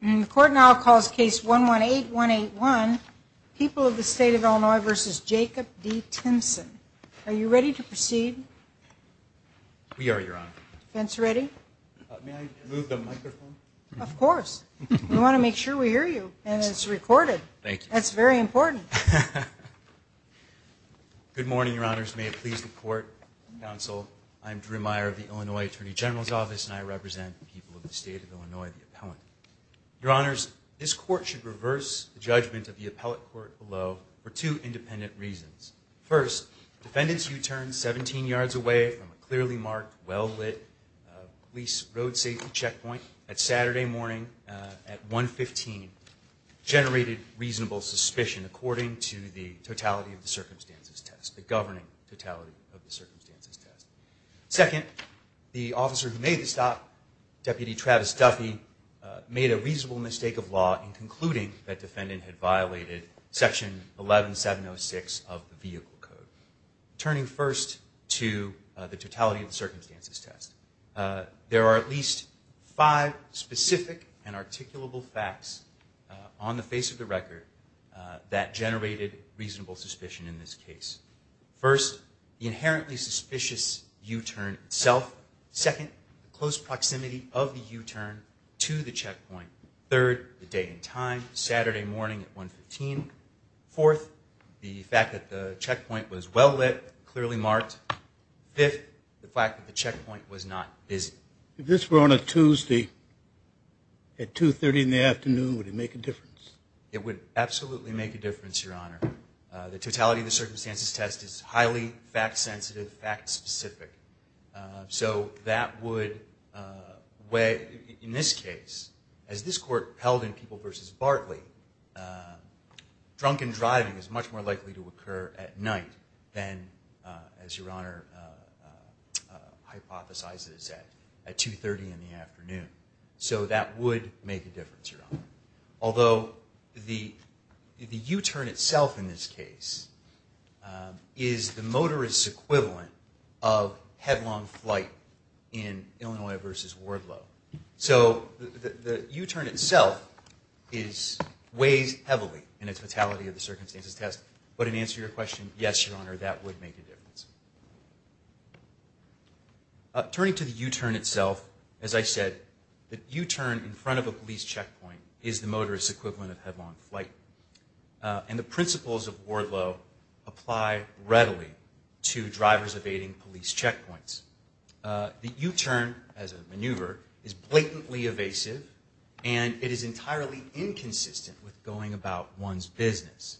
And the court now calls case 118181, People of the State of Illinois v. Jacob D. Timmsen. Are you ready to proceed? We are, Your Honor. Defense ready? May I move the microphone? Of course. We want to make sure we hear you, and it's recorded. Thank you. That's very important. Good morning, Your Honors. May it please the court, counsel. I'm Drew Meyer of the Illinois Attorney General's Office, and I represent the people of the State of Illinois, the appellant. Your Honors, this court should reverse the judgment of the appellate court below for two independent reasons. First, defendants who turned 17 yards away from a clearly marked, well-lit police road safety checkpoint at Saturday morning at 115 generated reasonable suspicion according to the totality of the circumstances test, the governing totality of the circumstances test. Second, the officer who made the stop, Deputy Travis Duffy, made a reasonable mistake of law in concluding that defendant had violated Section 11706 of the Vehicle Code. Turning first to the totality of the circumstances test, there are at least five specific and articulable facts on the face of the record that generated reasonable suspicion in this case. First, the inherently suspicious U-turn itself. Second, the close proximity of the U-turn to the checkpoint. Third, the date and time, Saturday morning at 115. Fourth, the fact that the checkpoint was well-lit, clearly marked. Fifth, the fact that the checkpoint was not busy. If this were on a Tuesday at 2.30 in the afternoon, would it make a difference? It would absolutely make a difference, Your Honor. The totality of the circumstances test is highly fact-sensitive, fact-specific. So that would weigh, in this case, as this court held in People v. Bartley, drunken driving is much more likely to occur at night than, as Your Honor hypothesizes, at 2.30 in the afternoon. So that would make a difference, Your Honor. Although the U-turn itself in this case is the motorist's equivalent of headlong flight in Illinois v. Wardlow. So the U-turn itself weighs heavily in its totality of the circumstances test. But in answer to your question, yes, Your Honor, that would make a difference. Turning to the U-turn itself, as I said, the U-turn in front of a police checkpoint is the motorist's equivalent of headlong flight. And the principles of Wardlow apply readily to drivers evading police checkpoints. The U-turn, as a maneuver, is blatantly evasive, and it is entirely inconsistent with going about one's business.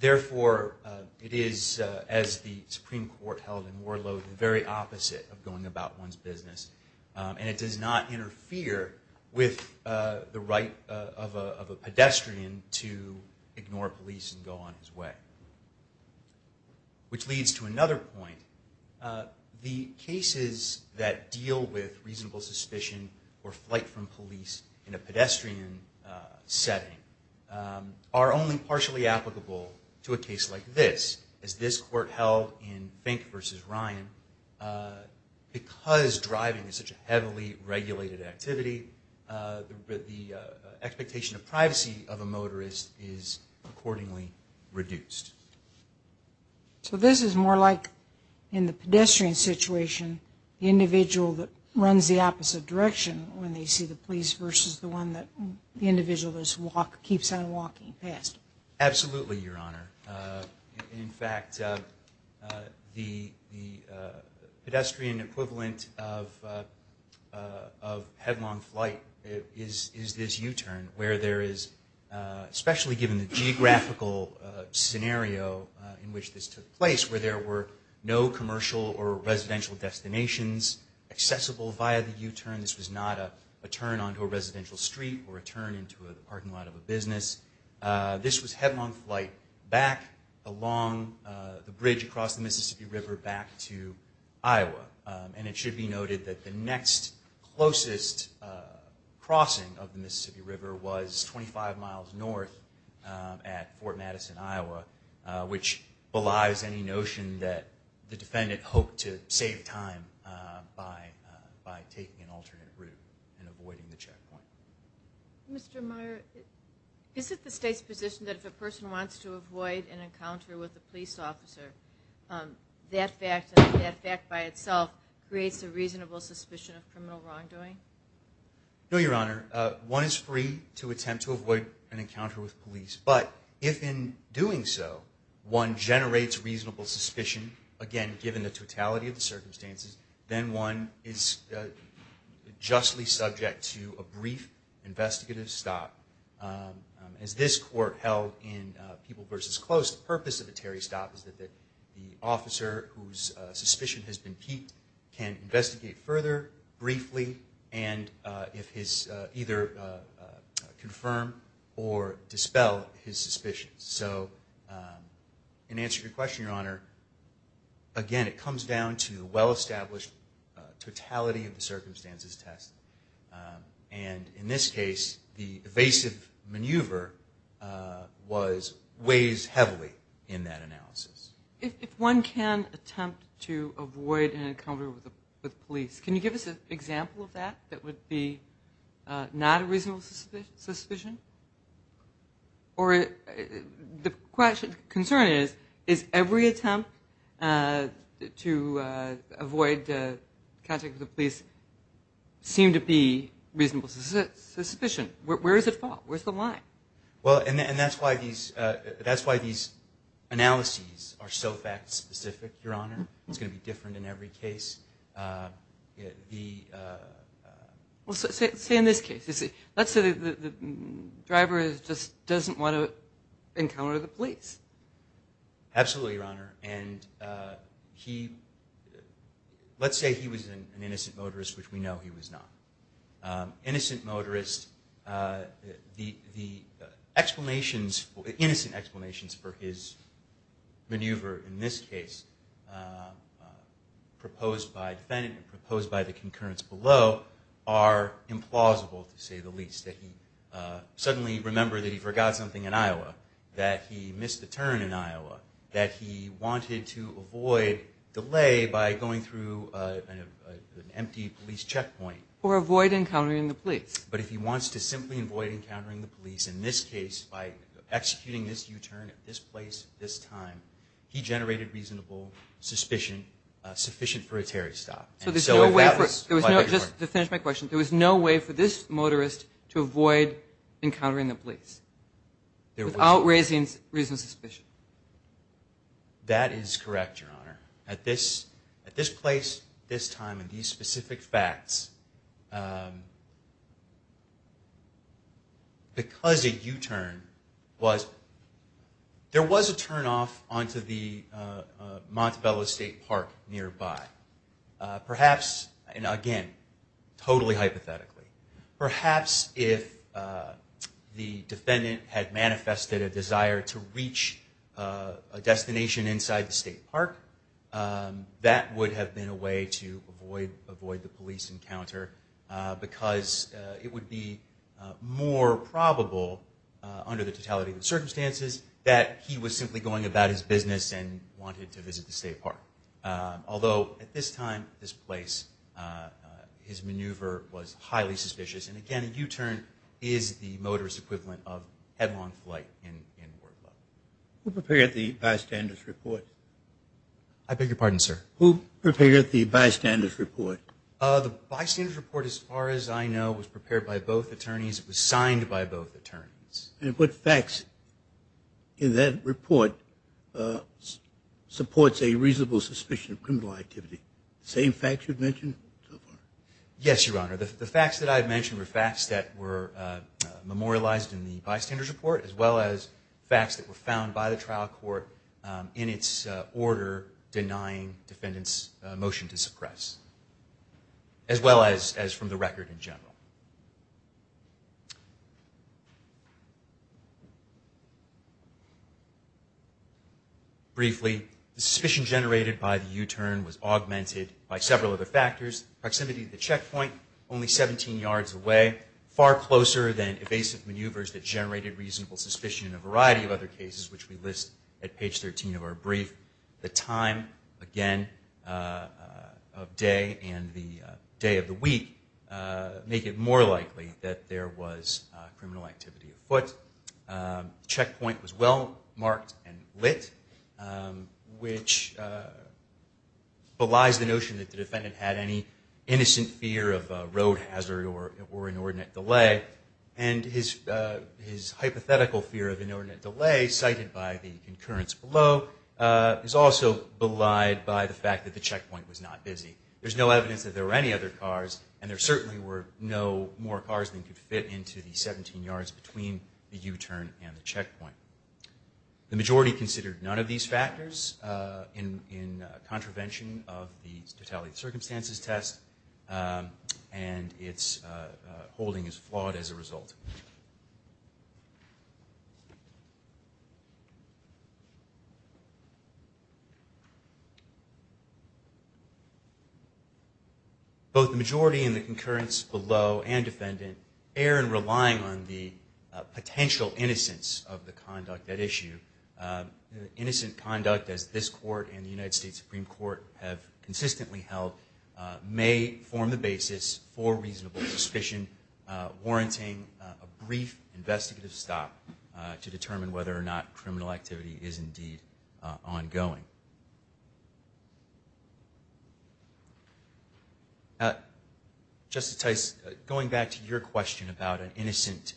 Therefore, it is, as the Supreme Court held in Wardlow, the very opposite of going about one's business. And it does not interfere with the right of a pedestrian to ignore police and go on his way. Which leads to another point. The cases that deal with reasonable suspicion or flight from police in a pedestrian setting are only partially applicable to a case like this. As this Court held in Fink v. Ryan, because driving is such a heavily regulated activity, the expectation of privacy of a motorist is accordingly reduced. So this is more like, in the pedestrian situation, the individual that runs the opposite direction when they see the police versus the one that the individual keeps on walking past. Absolutely, Your Honor. In fact, the pedestrian equivalent of headlong flight is this U-turn, where there is, especially given the geographical scenario in which this took place, where there were no commercial or residential destinations accessible via the U-turn. This was not a turn onto a residential street or a turn into a parking lot of a business. This was headlong flight back along the bridge across the Mississippi River back to Iowa. And it should be noted that the next closest crossing of the Mississippi River was 25 miles north at Fort Madison, Iowa, which belies any notion that the defendant hoped to save time by taking an alternate route and avoiding the checkpoint. Mr. Meyer, is it the State's position that if a person wants to avoid an encounter with a police officer, that fact by itself creates a reasonable suspicion of criminal wrongdoing? No, Your Honor. One is free to attempt to avoid an encounter with police, but if in doing so, one generates reasonable suspicion, again, given the totality of the circumstances, then one is justly subject to a brief investigative stop. As this court held in People v. Close, the purpose of the Terry stop is that the officer whose suspicion has been peaked can investigate further briefly and either confirm or dispel his suspicions. So in answer to your question, Your Honor, again, it comes down to well-established totality of the circumstances test. And in this case, the evasive maneuver weighs heavily in that analysis. If one can attempt to avoid an encounter with police, can you give us an example of that that would be not a reasonable suspicion? Or the concern is, is every attempt to avoid contact with the police seem to be reasonable suspicion? Where does it fall? Where's the line? Well, and that's why these analyses are so fact-specific, Your Honor. It's going to be different in every case. Well, say in this case. Let's say the driver just doesn't want to encounter the police. Absolutely, Your Honor. And let's say he was an innocent motorist, which we know he was not. Innocent motorist, the explanations, the innocent explanations for his maneuver in this case proposed by the defendant and proposed by the concurrence below are implausible, to say the least. That he suddenly remembered that he forgot something in Iowa, that he missed a turn in Iowa, that he wanted to avoid delay by going through an empty police checkpoint. Or avoid encountering the police. But if he wants to simply avoid encountering the police, in this case, by executing this U-turn at this place at this time, he generated reasonable suspicion, sufficient for a Terry stop. So there's no way for, just to finish my question, there was no way for this motorist to avoid encountering the police without raising reasonable suspicion? That is correct, Your Honor. At this place, this time, and these specific facts, because a U-turn was, there was a turn off onto the Montebello State Park nearby. Perhaps, and again, totally hypothetically, perhaps if the defendant had manifested a desire to reach a destination inside the state park, that would have been a way to avoid the police encounter because it would be more probable, under the totality of the circumstances, that he was simply going about his business and wanted to visit the state park. Although, at this time, this place, his maneuver was highly suspicious. And again, a U-turn is the motorist equivalent of headlong flight in war club. Who prepared the bystander's report? I beg your pardon, sir? Who prepared the bystander's report? The bystander's report, as far as I know, was prepared by both attorneys. It was signed by both attorneys. And what facts in that report supports a reasonable suspicion of criminal activity? Same facts you've mentioned so far? Yes, Your Honor. The facts that I've mentioned were facts that were memorialized in the bystander's report as well as facts that were found by the trial court in its order denying defendants' motion to suppress, as well as from the record in general. Briefly, the suspicion generated by the U-turn was augmented by several other factors. Proximity to the checkpoint, only 17 yards away, far closer than evasive maneuvers that generated reasonable suspicion in a variety of other cases, which we list at page 13 of our brief. The time, again, of day and the day of the week make it more likely that there was criminal activity afoot. The checkpoint was well marked and lit, which belies the notion that the defendant had any innocent fear of road hazard or inordinate delay. And his hypothetical fear of inordinate delay, cited by the concurrence below, is also belied by the fact that the checkpoint was not busy. There's no evidence that there were any other cars, and there certainly were no more cars than could fit into the 17 yards between the U-turn and the checkpoint. The majority considered none of these factors in contravention of the totality of circumstances test, and its holding is flawed as a result. Both the majority in the concurrence below and defendant err in relying on the potential innocence of the conduct at issue. Innocent conduct, as this court and the United States Supreme Court have consistently held, may form the basis for reasonable suspicion, warranting a brief investigative stop to determine whether or not criminal activity is indeed ongoing. Justice Tice, going back to your question about an innocent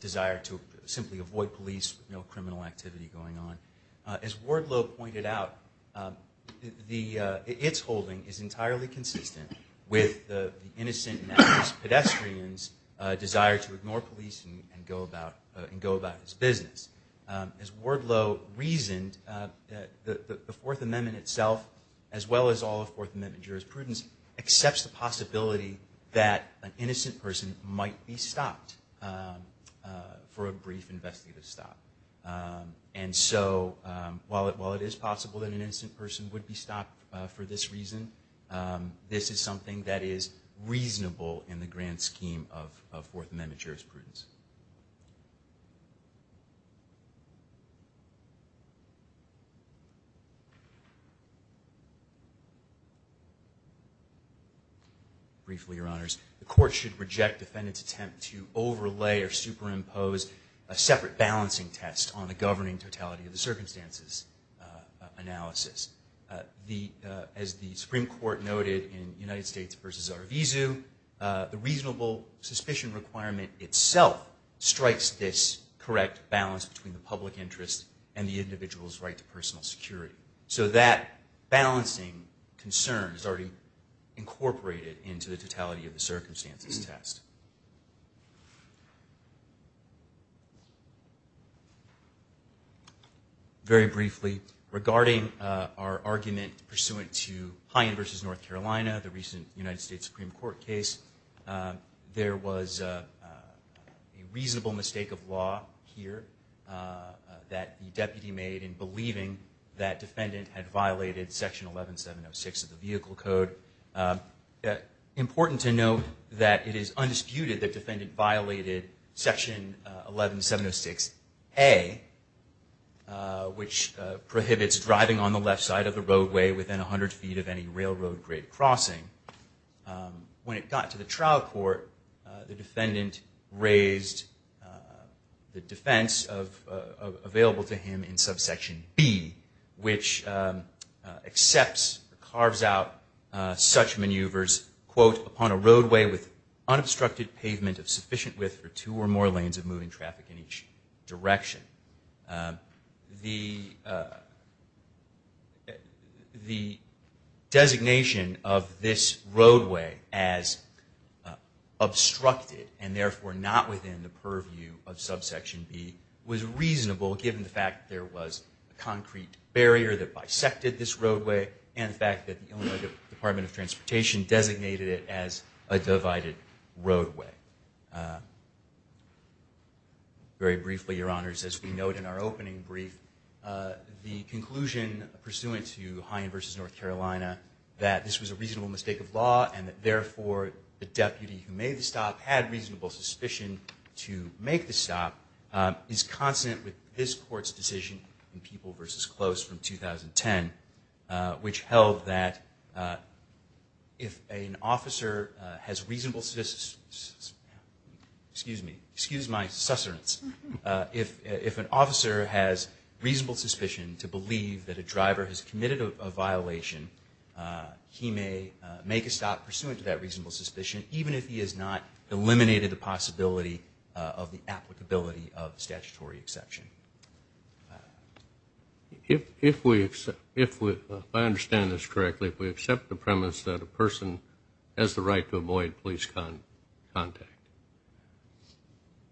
desire to simply avoid police with no criminal activity going on, as Wardlow pointed out, its holding is entirely consistent with the innocent pedestrian's desire to ignore police and go about his business. As Wardlow reasoned, the Fourth Amendment itself, as well as all of Fourth Amendment jurisprudence, accepts the possibility that an innocent person might be stopped for a brief investigative stop. And so while it is possible that an innocent person would be stopped for this reason, this is something that is reasonable in the grand scheme of Fourth Amendment jurisprudence. Briefly, Your Honors, the court should reject defendant's attempt to overlay or superimpose a separate balancing test on a governing totality of the circumstances analysis. As the Supreme Court noted in United States v. Arvizu, the reasonable suspicion requirement itself strikes this correct balance between the public interest and the individual's right to personal security. So that balancing concern is already incorporated into the totality of the circumstances test. Very briefly, regarding our argument pursuant to Hyen v. North Carolina, the recent United States Supreme Court case, there was a reasonable mistake of law here that the deputy made in believing that defendant's right to personal security had violated Section 11706 of the Vehicle Code. Important to note that it is undisputed that defendant violated Section 11706A, which prohibits driving on the left side of the roadway within 100 feet of any railroad grade crossing. When it got to the trial court, the defendant raised the defense available to him in subsection B, which accepts, carves out such maneuvers, quote, upon a roadway with unobstructed pavement of sufficient width for two or more lanes of moving traffic in each direction. The designation of this roadway as obstructed, and therefore not within the purview of subsection B, was reasonable given the fact that there was a concrete barrier that bisected this roadway, and the fact that the Illinois Department of Transportation designated it as a divided roadway. Very briefly, Your Honors, as we note in our opening brief, the conclusion pursuant to Hyen v. North Carolina that this was a reasonable mistake of law, and that therefore the deputy who made the stop had reasonable suspicion to make the stop, is consonant with this Court's decision in People v. Close from 2010, which held that if an officer has reasonable, excuse me, excuse my sussurance, if an officer has reasonable suspicion to believe that a driver has committed a violation, he may make a stop pursuant to that reasonable suspicion, even if he has not eliminated the possibility of the applicability of the statutory exception. If I understand this correctly, if we accept the premise that a person has the right to avoid police contact.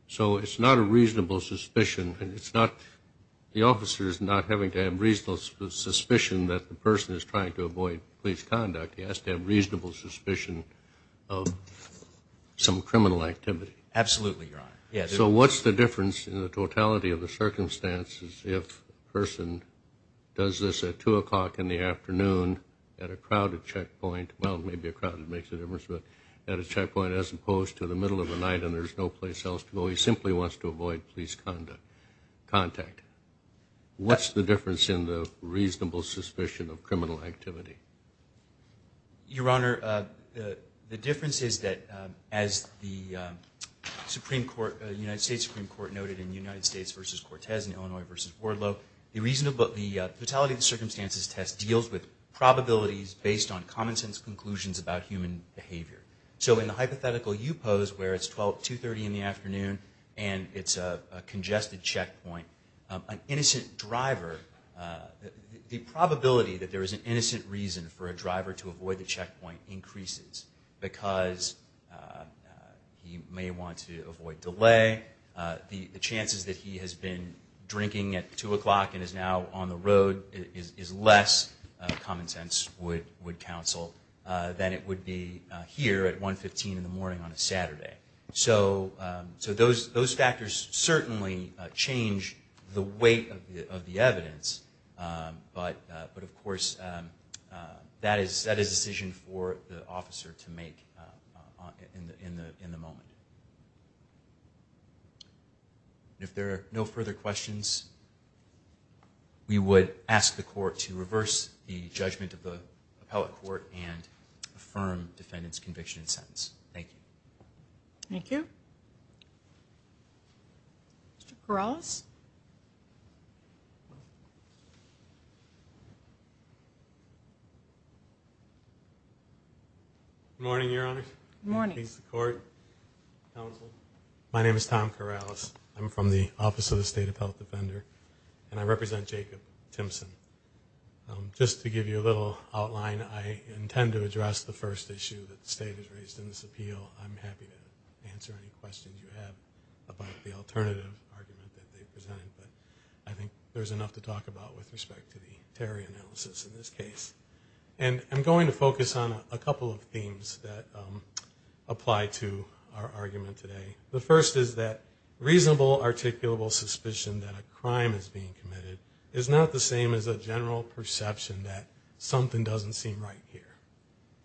So it's not a reasonable suspicion, and it's not, the officer is not having to have reasonable suspicion that the person is trying to avoid police conduct. He has to have reasonable suspicion of some criminal activity. So what's the difference in the totality of the circumstances if a person does this at 2 o'clock in the afternoon at a crowded checkpoint, well maybe a crowded makes a difference, but at a checkpoint as opposed to the middle of the night and there's no place else to go, he simply wants to avoid police contact. What's the difference in the reasonable suspicion of criminal activity? Your Honor, the difference is that as the United States Supreme Court noted in United States v. Cortez and Illinois v. Wardlow, the totality of the circumstances test deals with probabilities based on common sense conclusions about human behavior. So in the hypothetical you pose where it's 2.30 in the afternoon and it's a congested checkpoint, an innocent driver, the probability that there is an innocent reason for a driver to avoid the checkpoint increases, because he may want to avoid delay, the chances that he has been drinking at 2 o'clock and is now on the road is less, common sense would counsel, than it would be here at 1.15 in the morning on a Saturday. So those factors certainly change the weight of the evidence, but of course that is a decision for the officer to make in the moment. If there are no further questions, we would ask the court to reverse the judgment of the appellate court and affirm defendant's conviction and sentence. Thank you. Mr. Corrales. Good morning, Your Honor. Good morning. My name is Tom Corrales. I'm from the Office of the State Appellate Defender and I represent Jacob Timpson. Just to give you a little outline, I intend to address the first issue that the state has raised in this appeal. I'm happy to answer any questions you have about the alternative argument that they've presented, but I think there's enough to talk about with respect to the Terry analysis in this case. And I'm going to focus on a couple of themes that apply to our argument today. The first is that reasonable articulable suspicion that a crime is being committed is not the same as a general perception that something doesn't seem right here,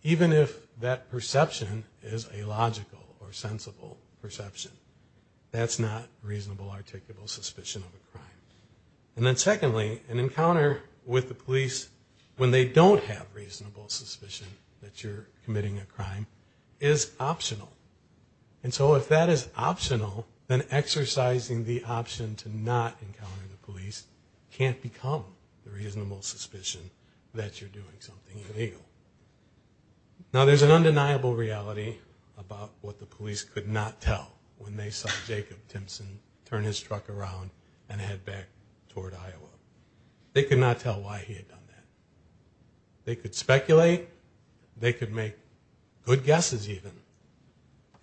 even if that perception is a logical or sensible perception. That's not reasonable articulable suspicion of a crime. And then secondly, an encounter with the police when they don't have reasonable suspicion that you're committing a crime is optional. And so if that is optional, then exercising the option to not encounter the police can't become the reasonable suspicion that you're doing something illegal. Now there's an undeniable reality about what the police could not tell when they saw Jacob Timpson turn his truck around and head back toward Iowa. They could not tell why he had done that. They could speculate. They could make good guesses even.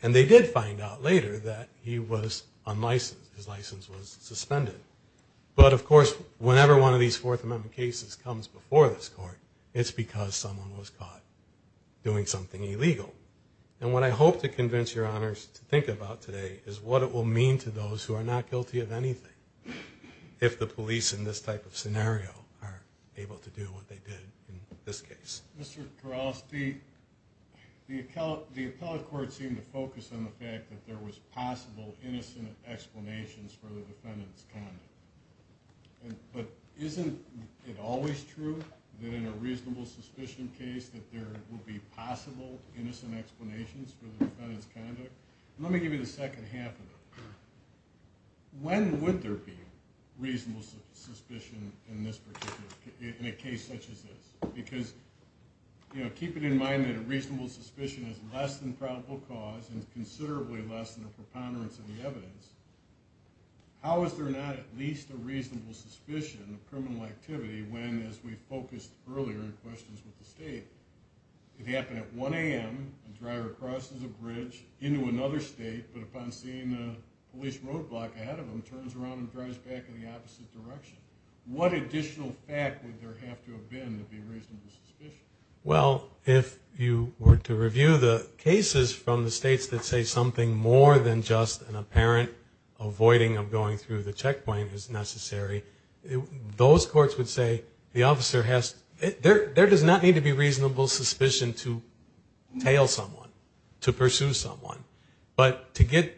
And they did find out later that he was unlicensed. His license was suspended. But of course, whenever one of these Fourth Amendment cases comes before this court, it's because someone was caught doing something illegal. And what I hope to convince your honors to think about today is what it will mean to those who are not guilty of anything if the police in this type of scenario are able to do what they want. And that's what they did in this case. Mr. Corrales, the appellate court seemed to focus on the fact that there was possible innocent explanations for the defendant's conduct. But isn't it always true that in a reasonable suspicion case that there will be possible innocent explanations for the defendant's conduct? Let me give you the second half of that. When would there be reasonable suspicion in a case such as this? Because, you know, keeping in mind that a reasonable suspicion is less than probable cause and considerably less than the preponderance of the evidence, how is there not at least a reasonable suspicion of criminal activity when, as we focused earlier in questions with the state, it happened at 1 a.m., a driver crosses a bridge into another state, but upon seeing a police roadblock ahead of him, turns around and drives back in the opposite direction. What additional fact would there have to have been to be reasonable suspicion? Well, if you were to review the cases from the states that say something more than just an apparent avoiding of going through the checkpoint is necessary, those courts would say, there does not need to be reasonable suspicion to tail someone, to pursue someone. But to get,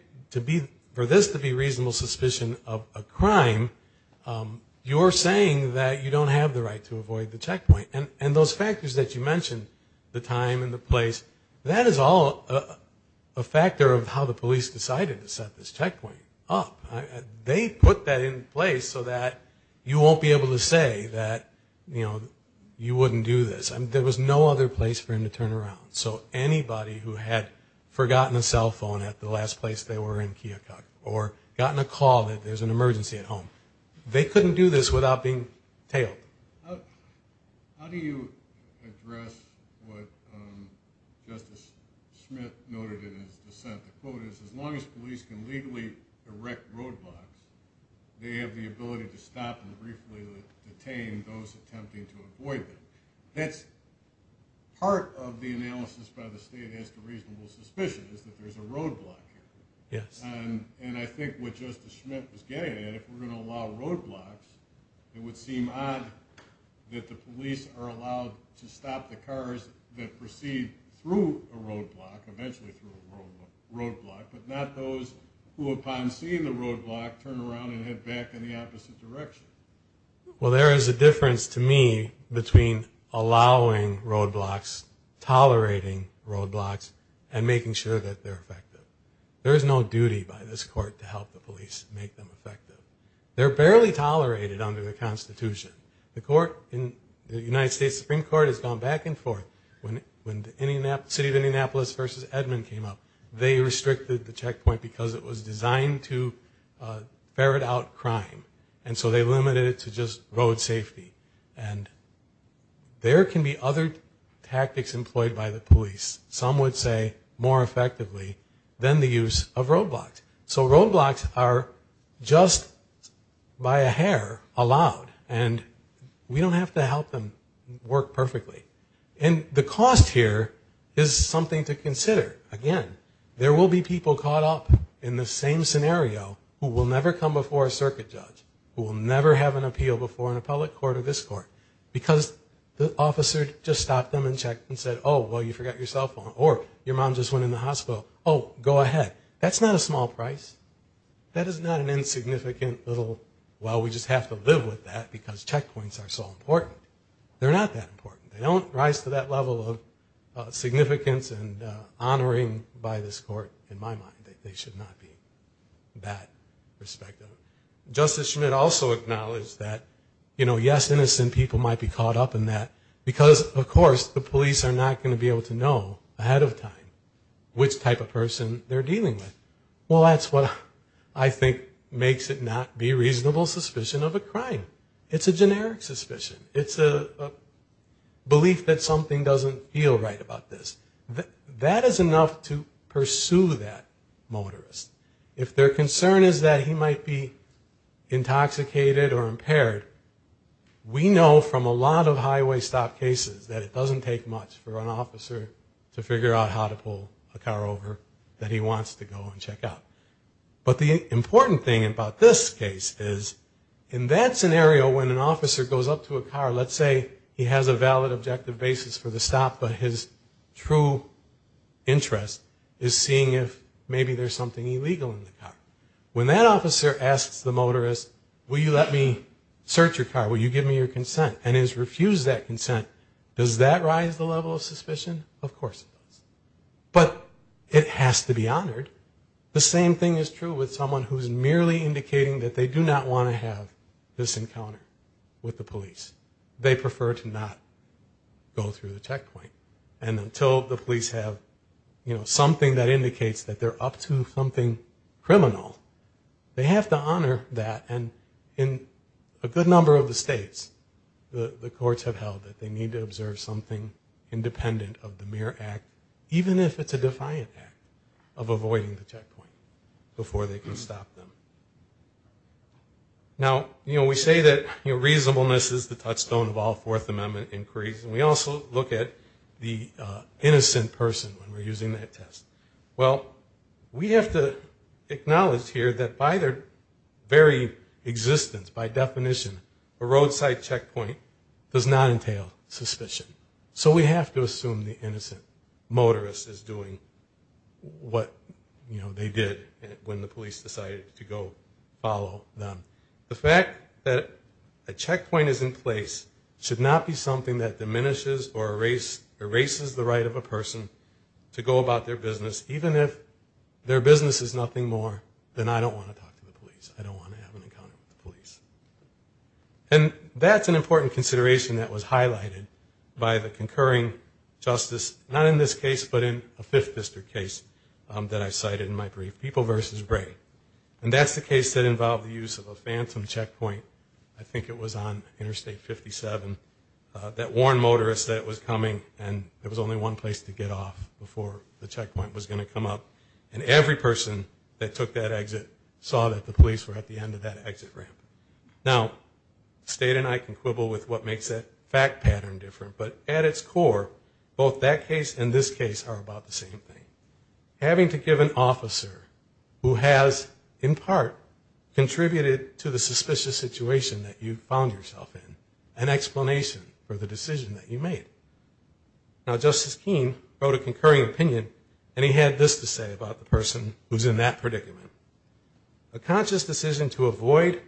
for this to be reasonable suspicion of a crime, you're saying that you don't have the right to avoid the checkpoint. And those factors that you mentioned, the time and the place, that is all a factor of how the police decided to set this checkpoint up. They put that in place so that you won't be able to say that, you know, you wouldn't do this. There was no other place for him to turn around. So anybody who had forgotten a cell phone or a cell phone or a cell phone at the last place they were in Keokuk or gotten a call that there's an emergency at home, they couldn't do this without being tailed. How do you address what Justice Smith noted in his dissent? The quote is, as long as police can legally erect roadblocks, they have the ability to stop and briefly detain those attempting to avoid them. That's part of the analysis by the state as to reasonable suspicion, is that there's a roadblock here. And I think what Justice Smith was getting at, if we're going to allow roadblocks, it would seem odd that the police are allowed to stop the cars that proceed through a roadblock, eventually through a roadblock, but not those who, upon seeing the roadblock, turn around and head back in the opposite direction. Well, there is a difference to me between allowing roadblocks, tolerating roadblocks, and making sure that they're effective. There is no duty by this court to help the police make them effective. They're barely tolerated under the Constitution. The court in the United States Supreme Court has gone back and forth. When the city of Indianapolis v. Edmond came up, they restricted the checkpoint because it was designed to ferret out crime. And so they limited the number of roadblocks that could be allowed. And so that's a big difference. And we can say that roadblocks are limited to just road safety. And there can be other tactics employed by the police, some would say more effectively, than the use of roadblocks. So roadblocks are just by a hair allowed, and we don't have to help them work perfectly. And the cost here is something to consider. Again, there will be people caught up in the same scenario who will never come before a circuit judge, who will never have a roadblock. And we need to make sure that they're effective. We haven't appealed before in a public court or this court, because the officer just stopped them and checked and said, oh, well, you forgot your cell phone, or your mom just went in the hospital. Oh, go ahead. That's not a small price. That is not an insignificant little, well, we just have to live with that, because checkpoints are so important. They're not that important. They don't rise to that level of significance and honoring by this court, in my mind. They should not be that respected. Justice Schmid also acknowledged that, yes, innocent people might be caught up in that, because of course the police are not going to be able to know ahead of time which type of person they're dealing with. Well, that's what I think makes it not be reasonable suspicion of a crime. It's a generic suspicion. It's a belief that something doesn't feel right about this. That is enough to pursue that motorist. If their concern is that he might be intoxicated or impaired, we know from a lot of highway stop cases that it doesn't take much for an officer to figure out how to pull a car over that he wants to go and check out. But the important thing about this case is, in that scenario when an officer goes up to a car, let's say he has a valid objective basis for the stop, but his true interest is seeing if maybe there's something illegal in the car. When that officer asks the motorist, will you let me search your car, will you give me your consent, and is refused that consent, does that rise the level of suspicion? Of course it does. But it has to be honored. The same thing is true with someone who's merely indicating that they do not want to have this encounter with the police. They prefer to not go through the checkpoint. And until the police have something that indicates that they're up to something criminal, they have to honor that. And in a good number of the states, the courts have held that they need to observe something independent of the MIR Act, even if it's a defiant act, of avoiding the checkpoint before they can stop them. Now, we say that reasonableness is the touchstone of all Fourth Amendment inquiries, and we also look at the innocent person when we're using that test. Well, we have to acknowledge here that by their very existence, by definition, a roadside checkpoint does not entail suspicion. So we have to assume the innocent motorist is doing what they did when the police decided to go follow them. The fact that a checkpoint is in place should not be something that diminishes or erases the right of a person to go about their business, even if their business is nothing more than I don't want to talk to the police, I don't want to have an encounter with the police. And that's an important consideration that was highlighted by the concurring justice, not in this case, but in a Fifth District case that I cited in my brief, People v. Bray. And that's the case that involved the use of a phantom checkpoint, I think it was on Interstate 57, that warned motorists that it was coming and there was only one place to get off before the checkpoint was going to come up. And every person that took that exit saw that the police were at the end of that exit ramp. Now, State and I can quibble with what makes a fact pattern different, but at its core, both that case and this case are about the same thing. Having to give an officer who has, in part, contributed to the suspicious situation that you found yourself in, an explanation for the decision that you made. Now, Justice Keene wrote a concurring opinion, and he had this to say about the person who's in that predicament. A conscious decision to avoid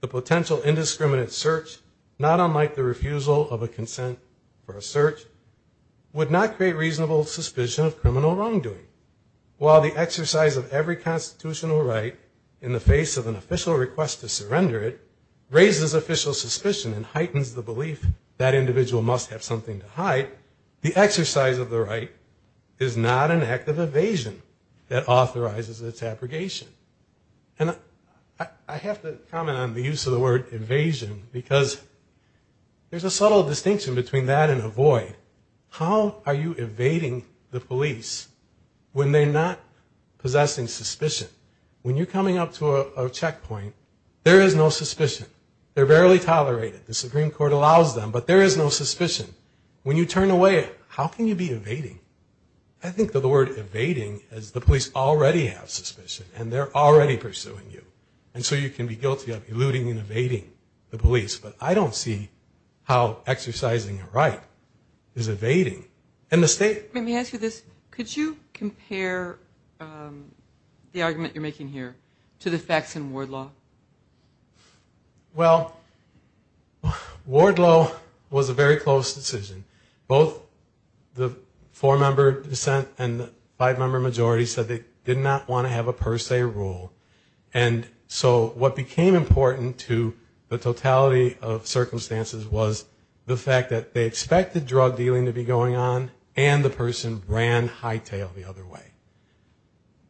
the potential indiscriminate search, not unlike the refusal of a consent for a search, would not create reasonable suspicion of criminal wrongdoing, while the exercise of every constitutional right in the face of an official request to surrender it, raises official suspicion and heightens the belief that individual must have something to hide. The exercise of the right is not an act of evasion that authorizes its abrogation. And I have to comment on the use of the word evasion, because there's a subtle distinction between that and avoid. How are you evading the police when they're not possessing suspicion? When you're coming up to a checkpoint, there is no suspicion. They're barely tolerated. The Supreme Court allows them, but there is no suspicion. When you turn away, how can you be evading? I think that the word evading is the police already have suspicion, and they're already pursuing you. And so you can be guilty of eluding and evading the police. But I don't see how exercising a right is evading a mistake. Let me ask you this. Could you compare the argument you're making here to the facts in ward law? Well, ward law was a very close decision. Both the four-member dissent and the five-member majority said they did not want to have a per se rule. And so what became important to the totality of circumstances was the fact that they expected drug dealing to be going on, and the person ran hightail the other way.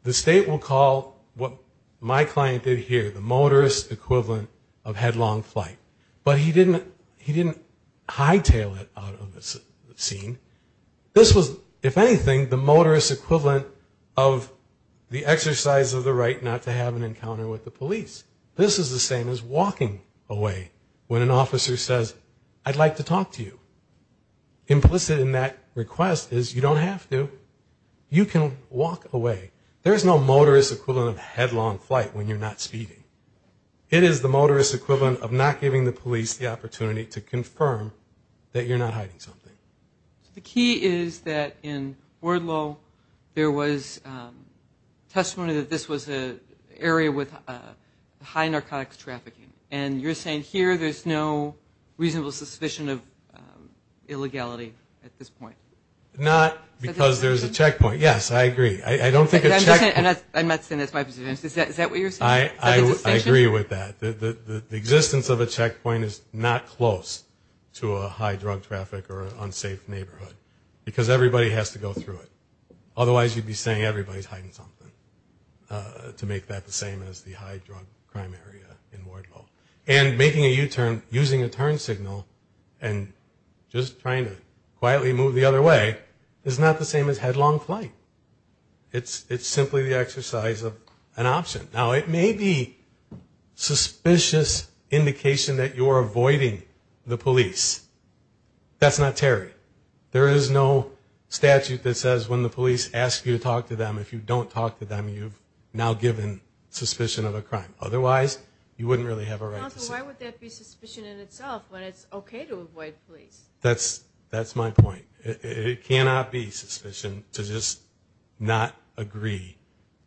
The state will call what my client did here, the motorist equivalent of headlong flight. But he didn't hightail it out of the scene. This was, if anything, the motorist equivalent of the exercise of the right not to have an encounter with the police. This is the same as walking away when an officer says, I'd like to talk to you. Implicit in that request is you don't have to. You can walk away. There's no motorist equivalent of headlong flight when you're not speeding. It is the motorist equivalent of not giving the police the opportunity to confirm that you're not hiding something. The key is that in ward law, there was testimony that this was an area with high narcotics trafficking. And you're saying here there's no reasonable suspicion of illegality at this point? Not because there's a checkpoint. Yes, I agree. I don't think a checkpoint... I'm not saying that's my position. Is that what you're saying? I agree with that. The existence of a checkpoint is not close to a high drug traffic or unsafe neighborhood because everybody has to go through it. Otherwise you'd be saying everybody's hiding something to make that the same as the high drug crime area in ward law. And making a U-turn, using a turn signal and just trying to quietly move the other way is not the same as headlong flight. It's simply the exercise of an option. Now it may be suspicious indication that you're avoiding the police. That's not Terry. There is no statute that says when the police ask you to talk to them, if you don't talk to them, you've now given suspicion of a crime. Otherwise, you wouldn't really have a right to say... Counsel, why would that be suspicion in itself when it's okay to avoid police? That's my point. It cannot be suspicion to just not agree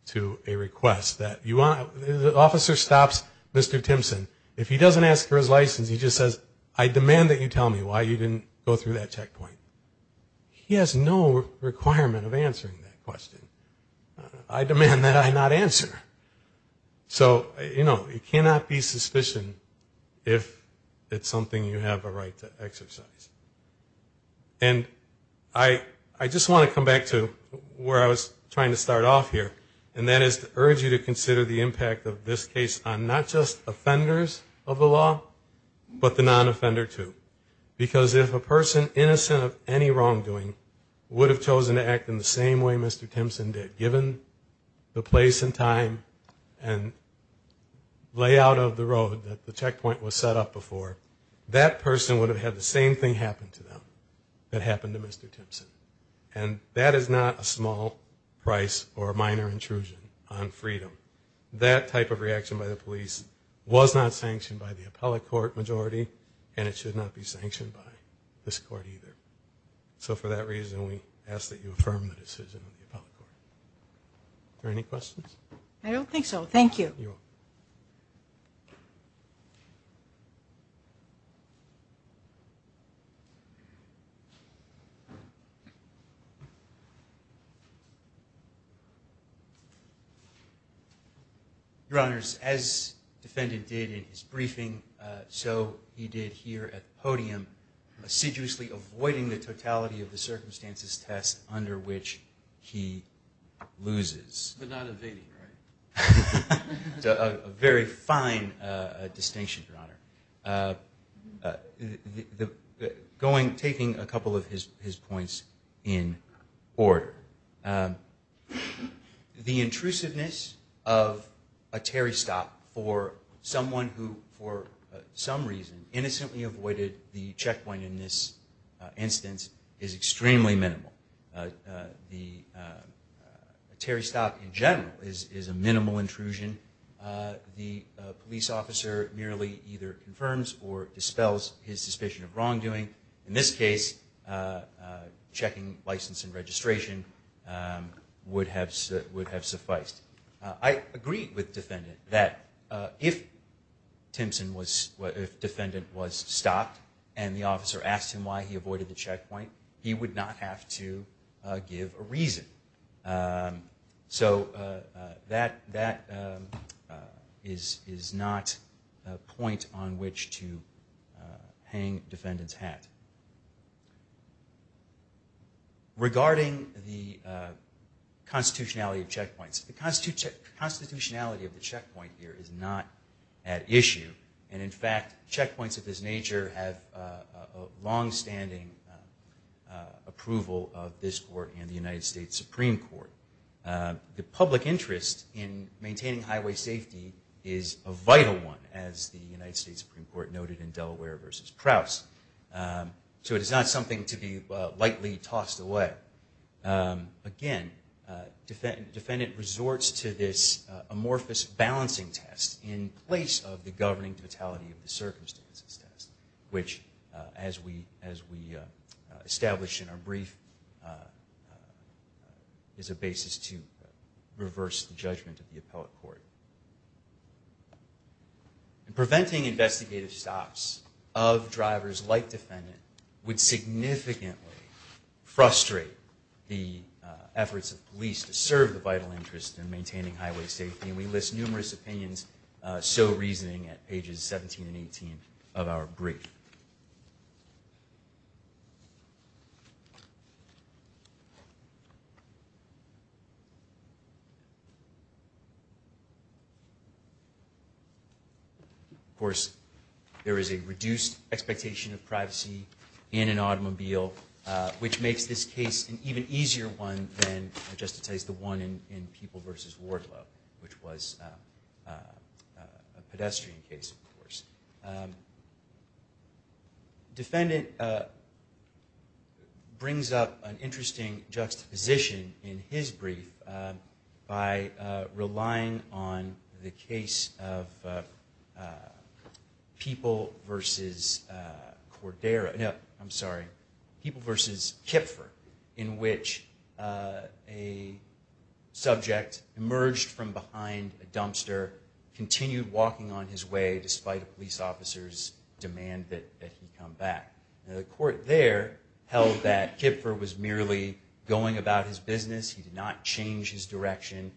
to a request. The officer stops Mr. Timpson. If he doesn't ask for his license, he just says, I demand that you tell me why you didn't go through that checkpoint. He has no requirement of answering that question. I demand that I not answer. So, you know, it cannot be suspicion if it's something you have a right to exercise. And I just want to come back to where I was trying to start off here. And that is to urge you to consider the impact of this case on not just offenders of the law, but the non-offender too. Because if a person innocent of a crime is not a criminal offender, then that person is not a criminal offender. And if that person, without any wrongdoing, would have chosen to act in the same way Mr. Timpson did, given the place and time and layout of the road that the checkpoint was set up before, that person would have had the same thing happen to them that happened to Mr. Timpson. And that is not a small price or a minor intrusion on freedom. That type of reaction by the police was not sanctioned by the appellate court majority, and it should not be sanctioned by this court either. So for that reason, we ask that you affirm the decision of the appellate court. Are there any questions? I don't think so. Thank you. Your Honor, as the defendant did in his briefing, so he did here at the podium, assiduously avoiding the totality of the circumstances test under which he loses. But not evading, right? is a minimal intrusion. The police officer merely either confirms or dispels his suspicion of wrongdoing. In this case, checking license and registration would have sufficed. I agreed with the defendant that if the defendant was stopped and the officer asked him why he avoided the checkpoint, he would not have to give a reason. So that is not a point on which to hang the defendant's hat. Regarding the constitutionality of checkpoints, the constitutionality of the checkpoint here is not at issue. And in fact, checkpoints of this nature have longstanding approval of this court and the United States Supreme Court. The public interest in maintaining highway safety is a vital one, as the United States Supreme Court noted in Delaware v. Proust. So it is not something to be lightly tossed away. But again, the defendant resorts to this amorphous balancing test in place of the governing totality of the circumstances test, which as we established in our brief, is a basis to reverse the judgment of the appellate court. Preventing investigative stops of drivers like the defendant would significantly frustrate the efforts of police to serve the vital interest in maintaining highway safety, and we list numerous opinions so reasoning at pages 17 and 18 of our brief. Of course, there is a reduced expectation of privacy in an automobile, which makes this case an even easier one than it justifies the one in People v. Wardlow, which was a pedestrian case, of course. The defendant brings up an interesting juxtaposition in his brief by relying on the case of People v. Kipfer, in which a subject emerged from behind a dumpster, continued walking on his way despite a police officer's demand that he come back. The court there held that Kipfer was merely going about his business, he did not change his direction,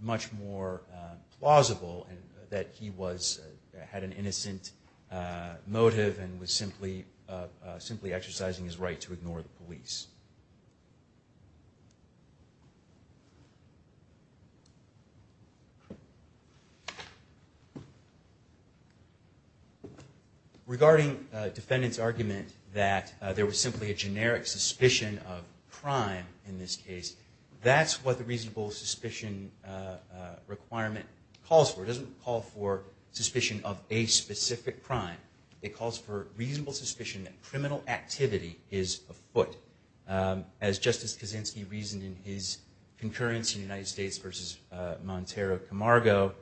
much more plausible that he had an innocent motive and was simply exercising his right to ignore the police. Regarding the defendant's argument that there was simply a generic suspicion of crime in this case, that's what the reasonable suspicion requirement calls for. It doesn't call for suspicion of a specific crime, it calls for reasonable suspicion that criminal activity is afoot. As Justice Kaczynski reasoned in his concurrence in United States v. Montero-Camargo,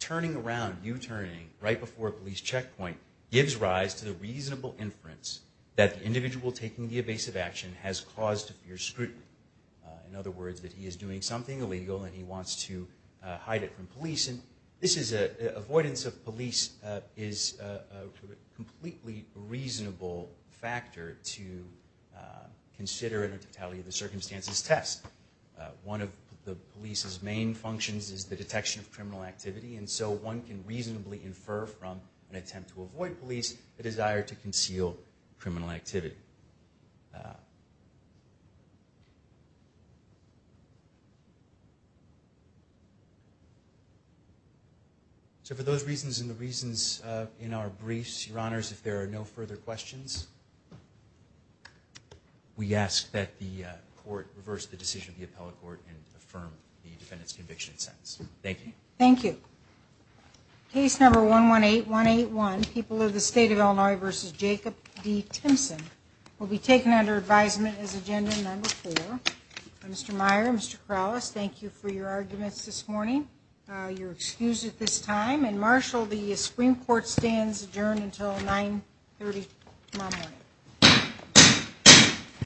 turning around, U-turning, right before a police checkpoint gives rise to the reasonable inference that the individual taking the evasive action has caused fierce scrutiny. In other words, that he is doing something illegal and he wants to hide it from police. Avoidance of police is a completely reasonable factor to consider in the totality of the circumstances test. One of the police's main functions is the detection of criminal activity, and so one can reasonably infer from an attempt to avoid police the desire to conceal criminal activity. So for those reasons and the reasons in our briefs, your honors, if there are no further questions, we ask that the court reverse the decision of the appellate court and affirm the defendant's conviction sentence. Thank you. Thank you. Case number 118181, People of the State of Illinois v. Jacob D. Timpson, will be taken under advisement as agenda number four. Mr. Meyer, Mr. Corrales, thank you for your arguments this morning. You're excused at this time, and marshal the Supreme Court stands adjourned until 930 tomorrow morning.